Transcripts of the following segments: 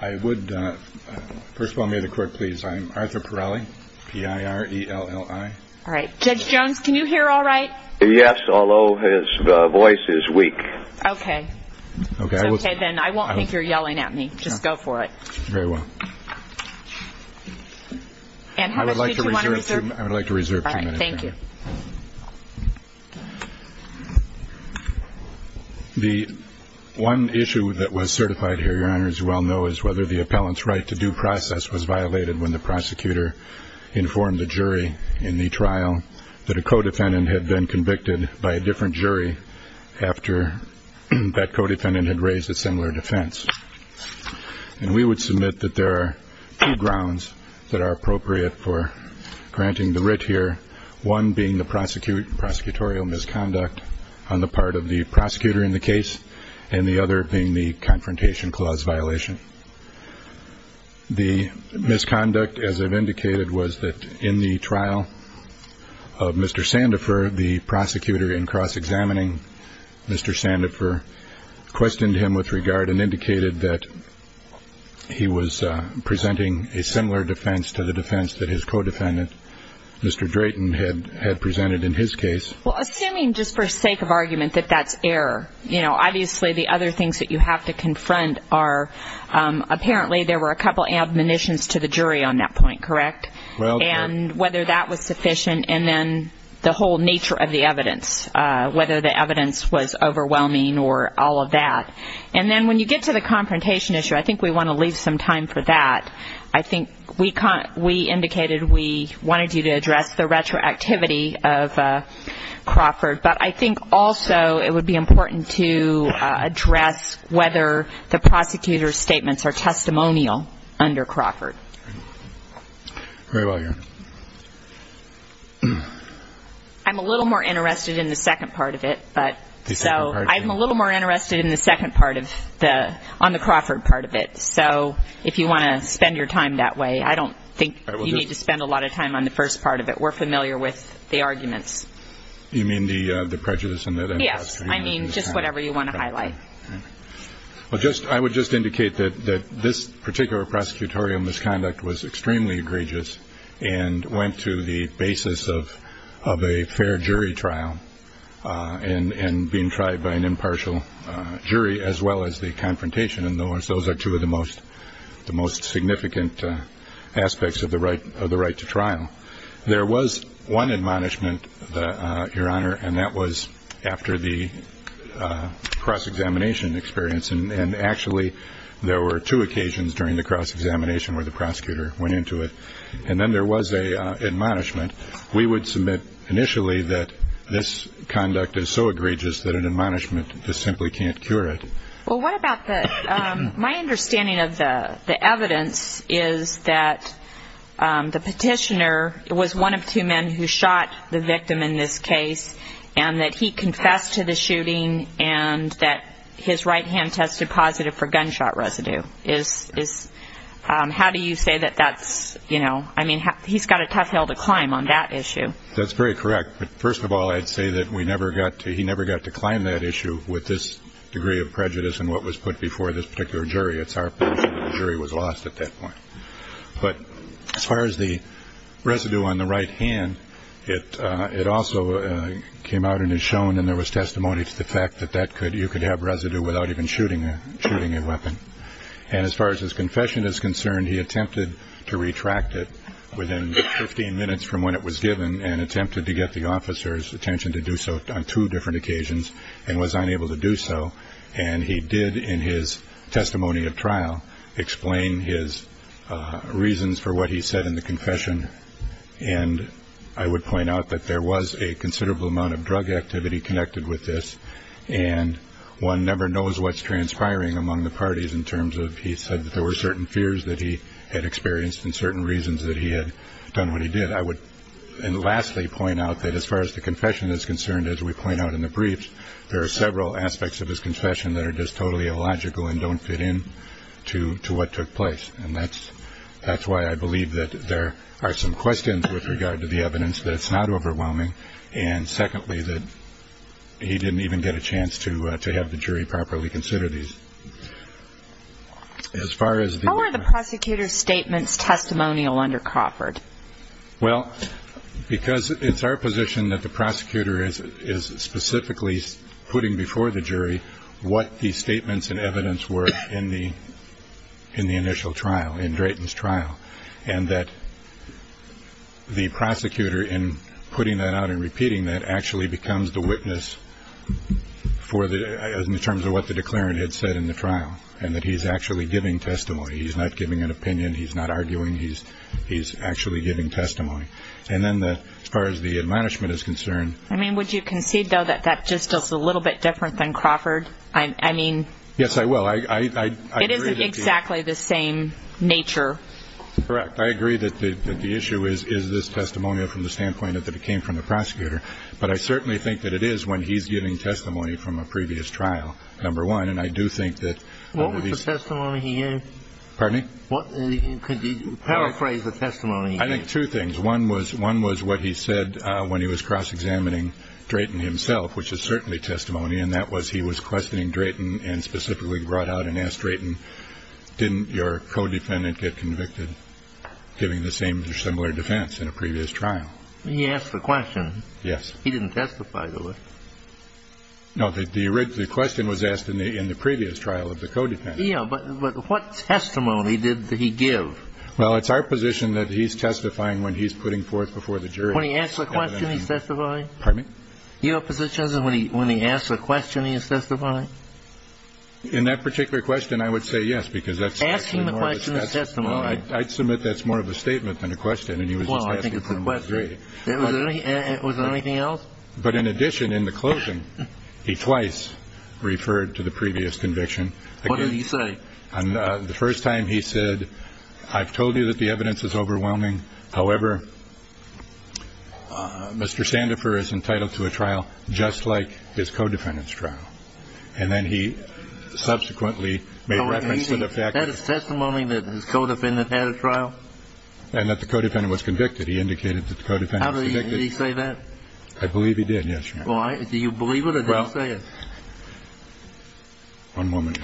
I would, first of all, may the court please, I'm Arthur Pirelli, P-I-R-E-L-L-I. All right. Judge Jones, can you hear all right? Yes, although his voice is weak. Okay. Okay. It's okay then. I won't think you're yelling at me. Just go for it. Very well. And how much did you want to reserve? I would like to reserve two minutes. All right. Thank you. The one issue that was certified here, Your Honor, as you well know, is whether the appellant's right to due process was violated when the prosecutor informed the jury in the trial that a co-defendant had been convicted by a different jury after that co-defendant had raised a similar defense. And we would submit that there are two grounds that are appropriate for granting the writ here. One being the prosecutorial misconduct on the part of the prosecutor in the case and the other being the confrontation clause violation. The misconduct, as I've indicated, was that in the trial of Mr. Sandifer, the prosecutor in cross-examining Mr. Sandifer questioned him with regard and indicated that he was presenting a similar defense to the defense that his co-defendant, Mr. Drayton, had presented in his case. Well, assuming, just for sake of argument, that that's error. You know, obviously the other things that you have to confront are, apparently there were a couple of admonitions to the jury on that point, correct? And whether that was sufficient and then the whole nature of the evidence, whether the evidence was overwhelming or all of that. And then when you get to the confrontation issue, I think we want to leave some time for that. I think we indicated we wanted you to address the retroactivity of Crawford, but I think also it would be important to address whether the prosecutor's statements are testimonial under Crawford. Very well, Your Honor. I'm a little more interested in the second part of it. The second part of it. So I'm a little more interested in the second part of the, on the Crawford part of it. So if you want to spend your time that way, I don't think you need to spend a lot of time on the first part of it. We're familiar with the arguments. You mean the prejudice in that? Yes, I mean just whatever you want to highlight. Well, I would just indicate that this particular prosecutorial misconduct was extremely egregious and went to the basis of a fair jury trial and being tried by an impartial jury as well as the confrontation. And those are two of the most significant aspects of the right to trial. There was one admonishment, Your Honor, and that was after the cross-examination experience. And actually there were two occasions during the cross-examination where the prosecutor went into it. And then there was an admonishment. We would submit initially that this conduct is so egregious that an admonishment just simply can't cure it. Well, what about the, my understanding of the evidence is that the petitioner was one of two men who shot the victim in this case and that he confessed to the shooting and that his right hand tested positive for gunshot residue. How do you say that that's, you know, I mean, he's got a tough hill to climb on that issue. That's very correct. But first of all, I'd say that we never got to he never got to climb that issue with this degree of prejudice and what was put before this particular jury. It's our jury was lost at that point. But as far as the residue on the right hand, it it also came out and is shown. And there was testimony to the fact that that could you could have residue without even shooting, shooting a weapon. And as far as his confession is concerned, he attempted to retract it within 15 minutes from when it was given and attempted to get the officer's attention to do so on two different occasions and was unable to do so. And he did in his testimony of trial explain his reasons for what he said in the confession. And I would point out that there was a considerable amount of drug activity connected with this. And one never knows what's transpiring among the parties in terms of. He said that there were certain fears that he had experienced and certain reasons that he had done what he did. I would lastly point out that as far as the confession is concerned, as we point out in the briefs, there are several aspects of his confession that are just totally illogical and don't fit in to to what took place. And that's that's why I believe that there are some questions with regard to the evidence that it's not overwhelming. And secondly, that he didn't even get a chance to to have the jury properly consider these. As far as the prosecutor's statements, testimonial under Crawford. Well, because it's our position that the prosecutor is is specifically putting before the jury what the statements and evidence were in the. In the initial trial in Drayton's trial and that. The prosecutor in putting that out and repeating that actually becomes the witness for the terms of what the declarant had said in the trial and that he's actually giving testimony, he's not giving an opinion, he's not arguing, he's he's actually giving testimony. And then as far as the management is concerned. I mean, would you concede, though, that that just is a little bit different than Crawford? I mean. Yes, I will. I agree. Exactly the same nature. Correct. I agree that the issue is, is this testimonial from the standpoint that it came from the prosecutor? But I certainly think that it is when he's giving testimony from a previous trial. Number one. And I do think that. What was the testimony he. Pardon me? What could you paraphrase the testimony? I think two things. One was one was what he said when he was cross-examining Drayton himself, which is certainly testimony. And that was he was questioning Drayton and specifically brought out and asked Drayton. Didn't your codependent get convicted giving the same or similar defense in a previous trial? He asked the question. Yes. He didn't testify to it. No. The question was asked in the in the previous trial of the codependent. Yeah. But what testimony did he give? Well, it's our position that he's testifying when he's putting forth before the jury. When he asks the question, he's testifying. Pardon me? Your position is when he when he asks a question, he is testifying. In that particular question, I would say yes, because that's asking the question. That's the one I'd submit. That's more of a statement than a question. And he was well, I think it's a question. Was there anything else? But in addition, in the closing, he twice referred to the previous conviction. What did he say? And the first time he said, I've told you that the evidence is overwhelming. However, Mr. Sandifer is entitled to a trial just like his codependent's trial. And then he subsequently made reference to the fact that his testimony that his codependent had a trial and that the codependent was convicted. He indicated that the codependent. Did he say that? I believe he did. Yes. Do you believe it? Well, one moment.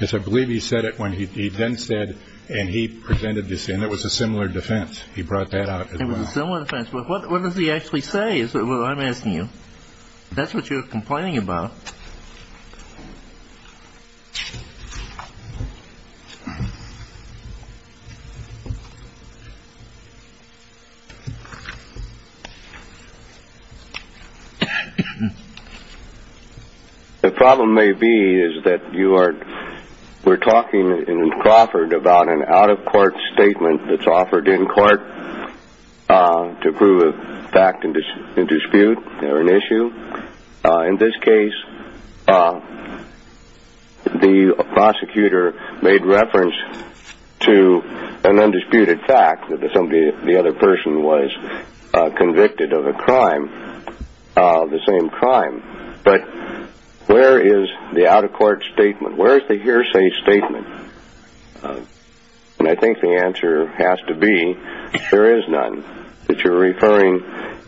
Yes, I believe he said it when he then said and he presented this and it was a similar defense. He brought that out. It was a similar defense. What does he actually say? Well, I'm asking you. That's what you're complaining about. The problem may be is that you are. We're talking in Crawford about an out of court statement that's offered in court to prove a fact and dispute or an issue. In this case, the prosecutor made reference to an undisputed fact that the other person was convicted of a crime, the same crime. But where is the out of court statement? Where is the hearsay statement? And I think the answer has to be there is none. You're referring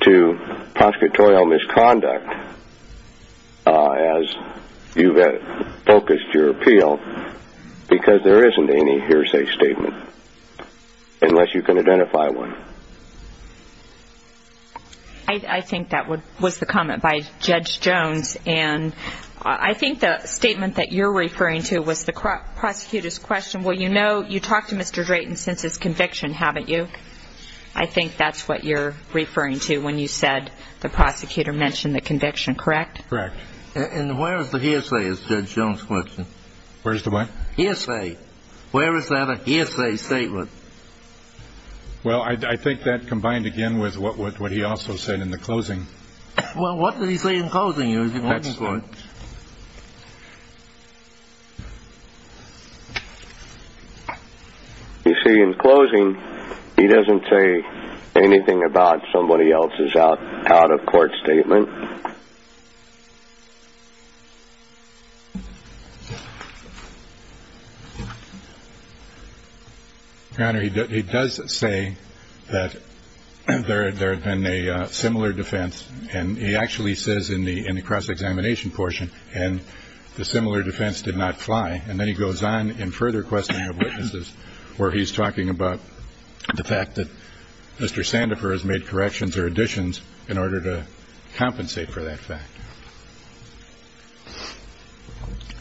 to prosecutorial misconduct as you focused your appeal because there isn't any hearsay statement unless you can identify one. I think that was the comment by Judge Jones. And I think the statement that you're referring to was the prosecutor's question. Well, you know you talked to Mr. Drayton since his conviction, haven't you? I think that's what you're referring to when you said the prosecutor mentioned the conviction, correct? Correct. And where is the hearsay, is Judge Jones' question? Where's the what? Hearsay. Where is that a hearsay statement? Well, I think that combined again with what he also said in the closing. Well, what did he say in closing? You see, in closing, he doesn't say anything about somebody else's out of court statement. Your Honor, he does say that there had been a similar defense, and he actually says in the cross-examination portion, and the similar defense did not fly. And then he goes on in further questioning of witnesses where he's talking about the fact that Mr. Sandefur has made corrections or additions in order to compensate the defendant.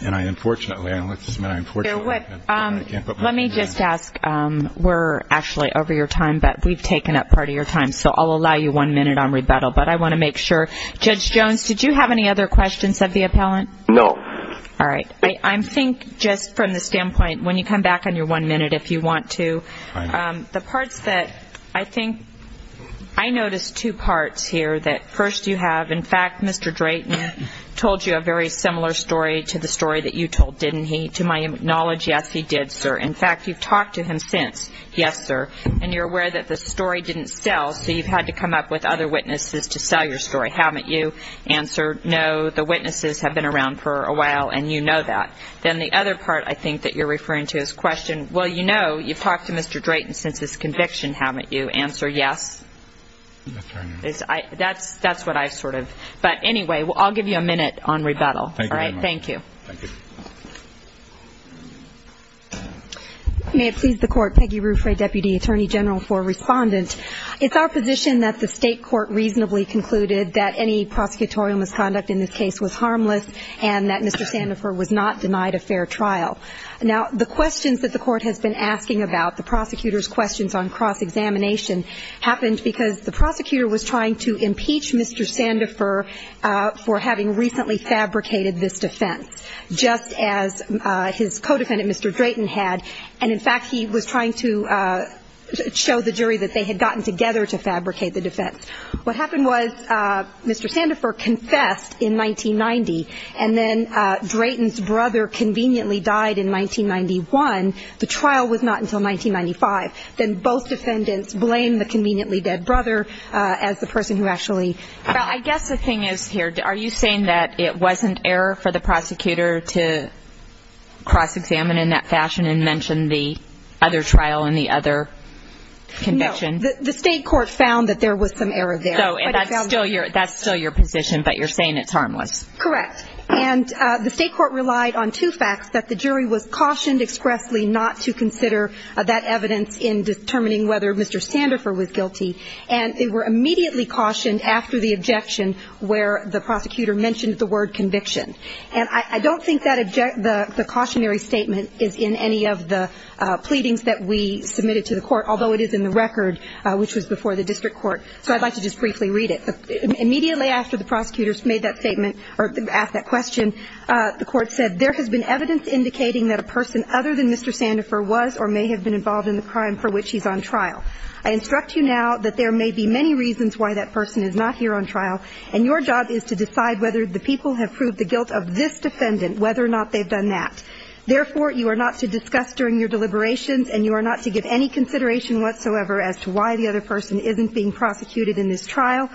And I unfortunately, I don't like this, but I unfortunately can't put my finger on it. Let me just ask, we're actually over your time, but we've taken up part of your time, so I'll allow you one minute on rebuttal. But I want to make sure. Judge Jones, did you have any other questions of the appellant? No. All right. I think just from the standpoint, when you come back on your one minute if you want to, the parts that I think I noticed two parts here, that first you have, in fact, Mr. Drayton told you a very similar story to the story that you told, didn't he? To my knowledge, yes, he did, sir. In fact, you've talked to him since. Yes, sir. And you're aware that the story didn't sell, so you've had to come up with other witnesses to sell your story, haven't you? Answer, no, the witnesses have been around for a while, and you know that. Then the other part I think that you're referring to is the question, well, you know, you've talked to Mr. Drayton since his conviction, haven't you? Answer, yes. That's what I sort of, but anyway, I'll give you a minute on rebuttal. Thank you very much. All right, thank you. Thank you. May it please the Court, Peggy Ruffray, Deputy Attorney General for Respondent. It's our position that the state court reasonably concluded that any prosecutorial misconduct in this case was harmless and that Mr. Sandifer was not denied a fair trial. Now, the questions that the court has been asking about, the prosecutor's questions on cross-examination, happened because the prosecutor was trying to impeach Mr. Sandifer for having recently fabricated this defense, just as his co-defendant, Mr. Drayton, had. And, in fact, he was trying to show the jury that they had gotten together to fabricate the defense. What happened was Mr. Sandifer confessed in 1990, and then Drayton's brother conveniently died in 1991. The trial was not until 1995. Then both defendants blamed the conveniently dead brother as the person who actually died. I guess the thing is here, are you saying that it wasn't error for the prosecutor to cross-examine in that fashion and mention the other trial and the other conviction? The state court found that there was some error there. So that's still your position, but you're saying it's harmless. Correct. And the state court relied on two facts, that the jury was cautioned expressly not to consider that evidence in determining whether Mr. Sandifer was guilty, and they were immediately cautioned after the objection where the prosecutor mentioned the word conviction. And I don't think that the cautionary statement is in any of the pleadings that we submitted to the court, although it is in the record, which was before the district court. So I'd like to just briefly read it. Immediately after the prosecutors made that statement or asked that question, the court said, there has been evidence indicating that a person other than Mr. Sandifer was or may have been involved in the crime for which he's on trial. I instruct you now that there may be many reasons why that person is not here on trial, and your job is to decide whether the people have proved the guilt of this defendant, whether or not they've done that. Therefore, you are not to discuss during your deliberations, and you are not to give any consideration whatsoever as to why the other person isn't being prosecuted in this trial.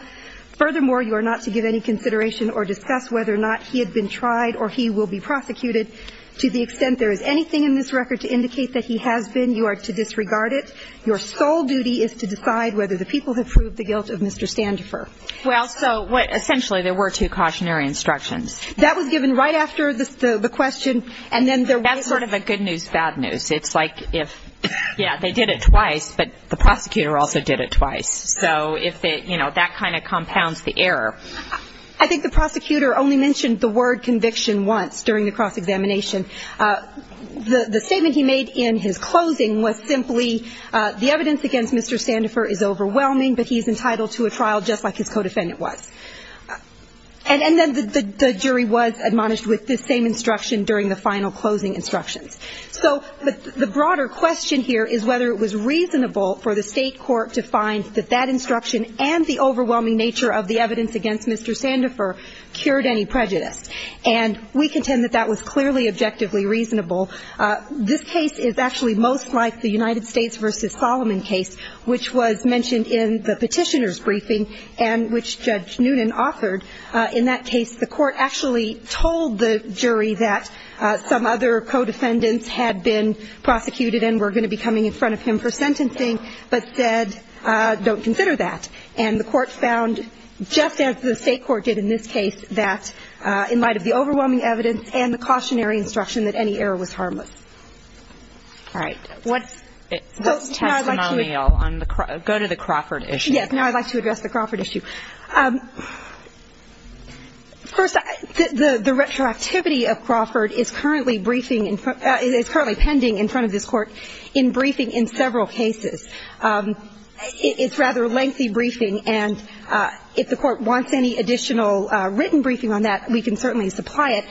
Furthermore, you are not to give any consideration or discuss whether or not he had been tried or he will be prosecuted. To the extent there is anything in this record to indicate that he has been, you are to disregard it. Your sole duty is to decide whether the people have proved the guilt of Mr. Sandifer. Well, so essentially there were two cautionary instructions. That was given right after the question, and then there wasn't. That's sort of a good news, bad news. It's like if, yeah, they did it twice, but the prosecutor also did it twice. So if it, you know, that kind of compounds the error. I think the prosecutor only mentioned the word conviction once during the cross-examination. The statement he made in his closing was simply, the evidence against Mr. Sandifer is overwhelming, but he is entitled to a trial just like his co-defendant was. And then the jury was admonished with this same instruction during the final closing instructions. So the broader question here is whether it was reasonable for the state court to find that that instruction and the overwhelming nature of the evidence against Mr. Sandifer cured any prejudice. And we contend that that was clearly objectively reasonable. This case is actually most like the United States v. Solomon case, which was mentioned in the petitioner's briefing and which Judge Noonan authored. In that case, the court actually told the jury that some other co-defendants had been prosecuted and were going to be coming in front of him for sentencing, but said, don't consider that. And the court found, just as the state court did in this case, that in light of the overwhelming evidence and the cautionary instruction, that any error was harmless. All right. What's the testimonial on the go-to-the-Crawford issue? Yes. Now I'd like to address the Crawford issue. First, the retroactivity of Crawford is currently briefing and is currently pending in front of this court in briefing in several cases. It's rather a lengthy briefing, and if the court wants any additional written briefing on that, we can certainly supply it.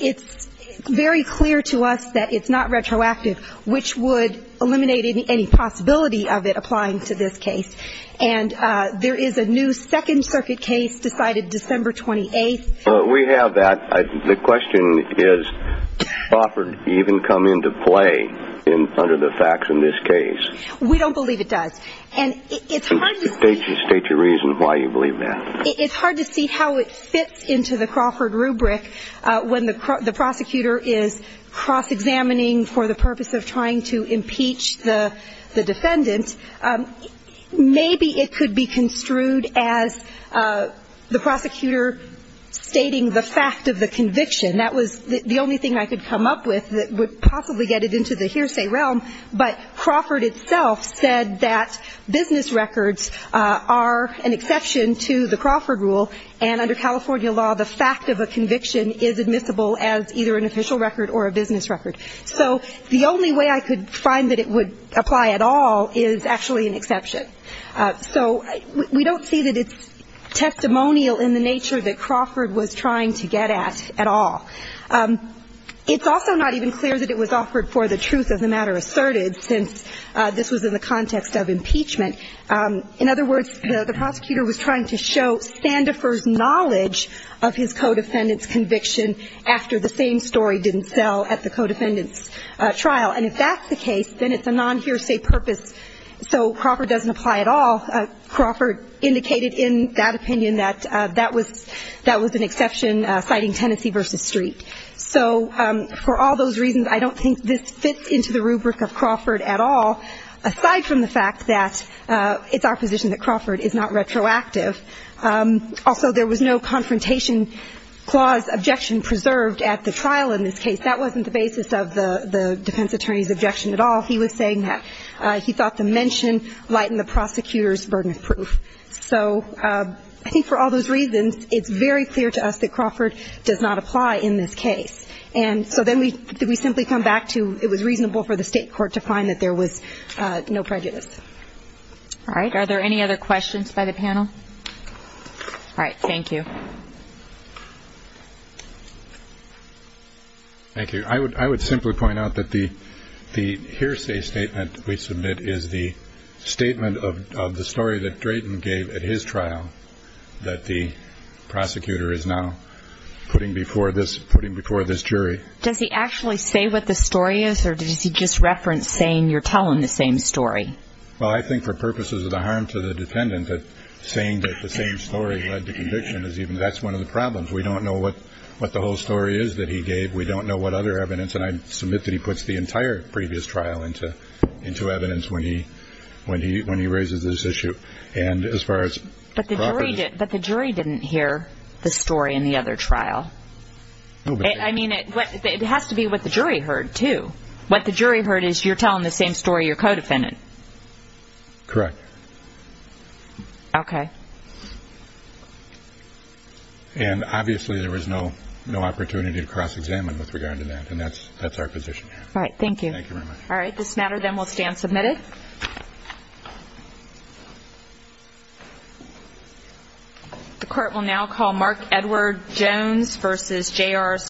It's very clear to us that it's not retroactive, which would eliminate any possibility of it applying to this case. And there is a new Second Circuit case decided December 28th. We have that. The question is, does Crawford even come into play under the facts in this case? We don't believe it does. And it's hard to see that. State your reason why you believe that. It's hard to see how it fits into the Crawford rubric when the prosecutor is cross-examining for the purpose of trying to impeach the defendant. Maybe it could be construed as the prosecutor stating the fact of the conviction. That was the only thing I could come up with that would possibly get it into the hearsay realm. But Crawford itself said that business records are an exception to the Crawford rule, and under California law, the fact of a conviction is admissible as either an official record or a business record. So the only way I could find that it would apply at all is actually an exception. So we don't see that it's testimonial in the nature that Crawford was trying to get at at all. It's also not even clear that it was offered for the truth of the matter asserted, since this was in the context of impeachment. In other words, the prosecutor was trying to show Sandifer's knowledge of his co-defendant's conviction after the same story didn't sell at the co-defendant's trial. And if that's the case, then it's a non-hearsay purpose. So Crawford doesn't apply at all. Crawford indicated in that opinion that that was an exception, citing Tennessee v. Street. So for all those reasons, I don't think this fits into the rubric of Crawford at all, aside from the fact that it's our position that Crawford is not retroactive. Also, there was no confrontation clause objection preserved at the trial in this case. That wasn't the basis of the defense attorney's objection at all. He was saying that he thought the mention lightened the prosecutor's burden of proof. So I think for all those reasons, it's very clear to us that Crawford does not apply in this case. And so then we simply come back to it was reasonable for the state court to find that there was no prejudice. All right. Are there any other questions by the panel? All right. Thank you. Thank you. I would simply point out that the hearsay statement we submit is the statement of the story that Drayton gave at his trial that the prosecutor is now putting before this jury. Does he actually say what the story is, or does he just reference saying you're telling the same story? Well, I think for purposes of the harm to the defendant, saying that the same story led to conviction, that's one of the problems. We don't know what the whole story is that he gave. We don't know what other evidence, and I submit that he puts the entire previous trial into evidence when he raises this issue. But the jury didn't hear the story in the other trial. I mean, it has to be what the jury heard, too. What the jury heard is you're telling the same story, your co-defendant. Correct. Okay. And obviously there was no opportunity to cross-examine with regard to that, and that's our position here. All right. Thank you. Thank you very much. All right. This matter then will stand submitted. The court will now call Mark Edward Jones v. J.R. Sargent.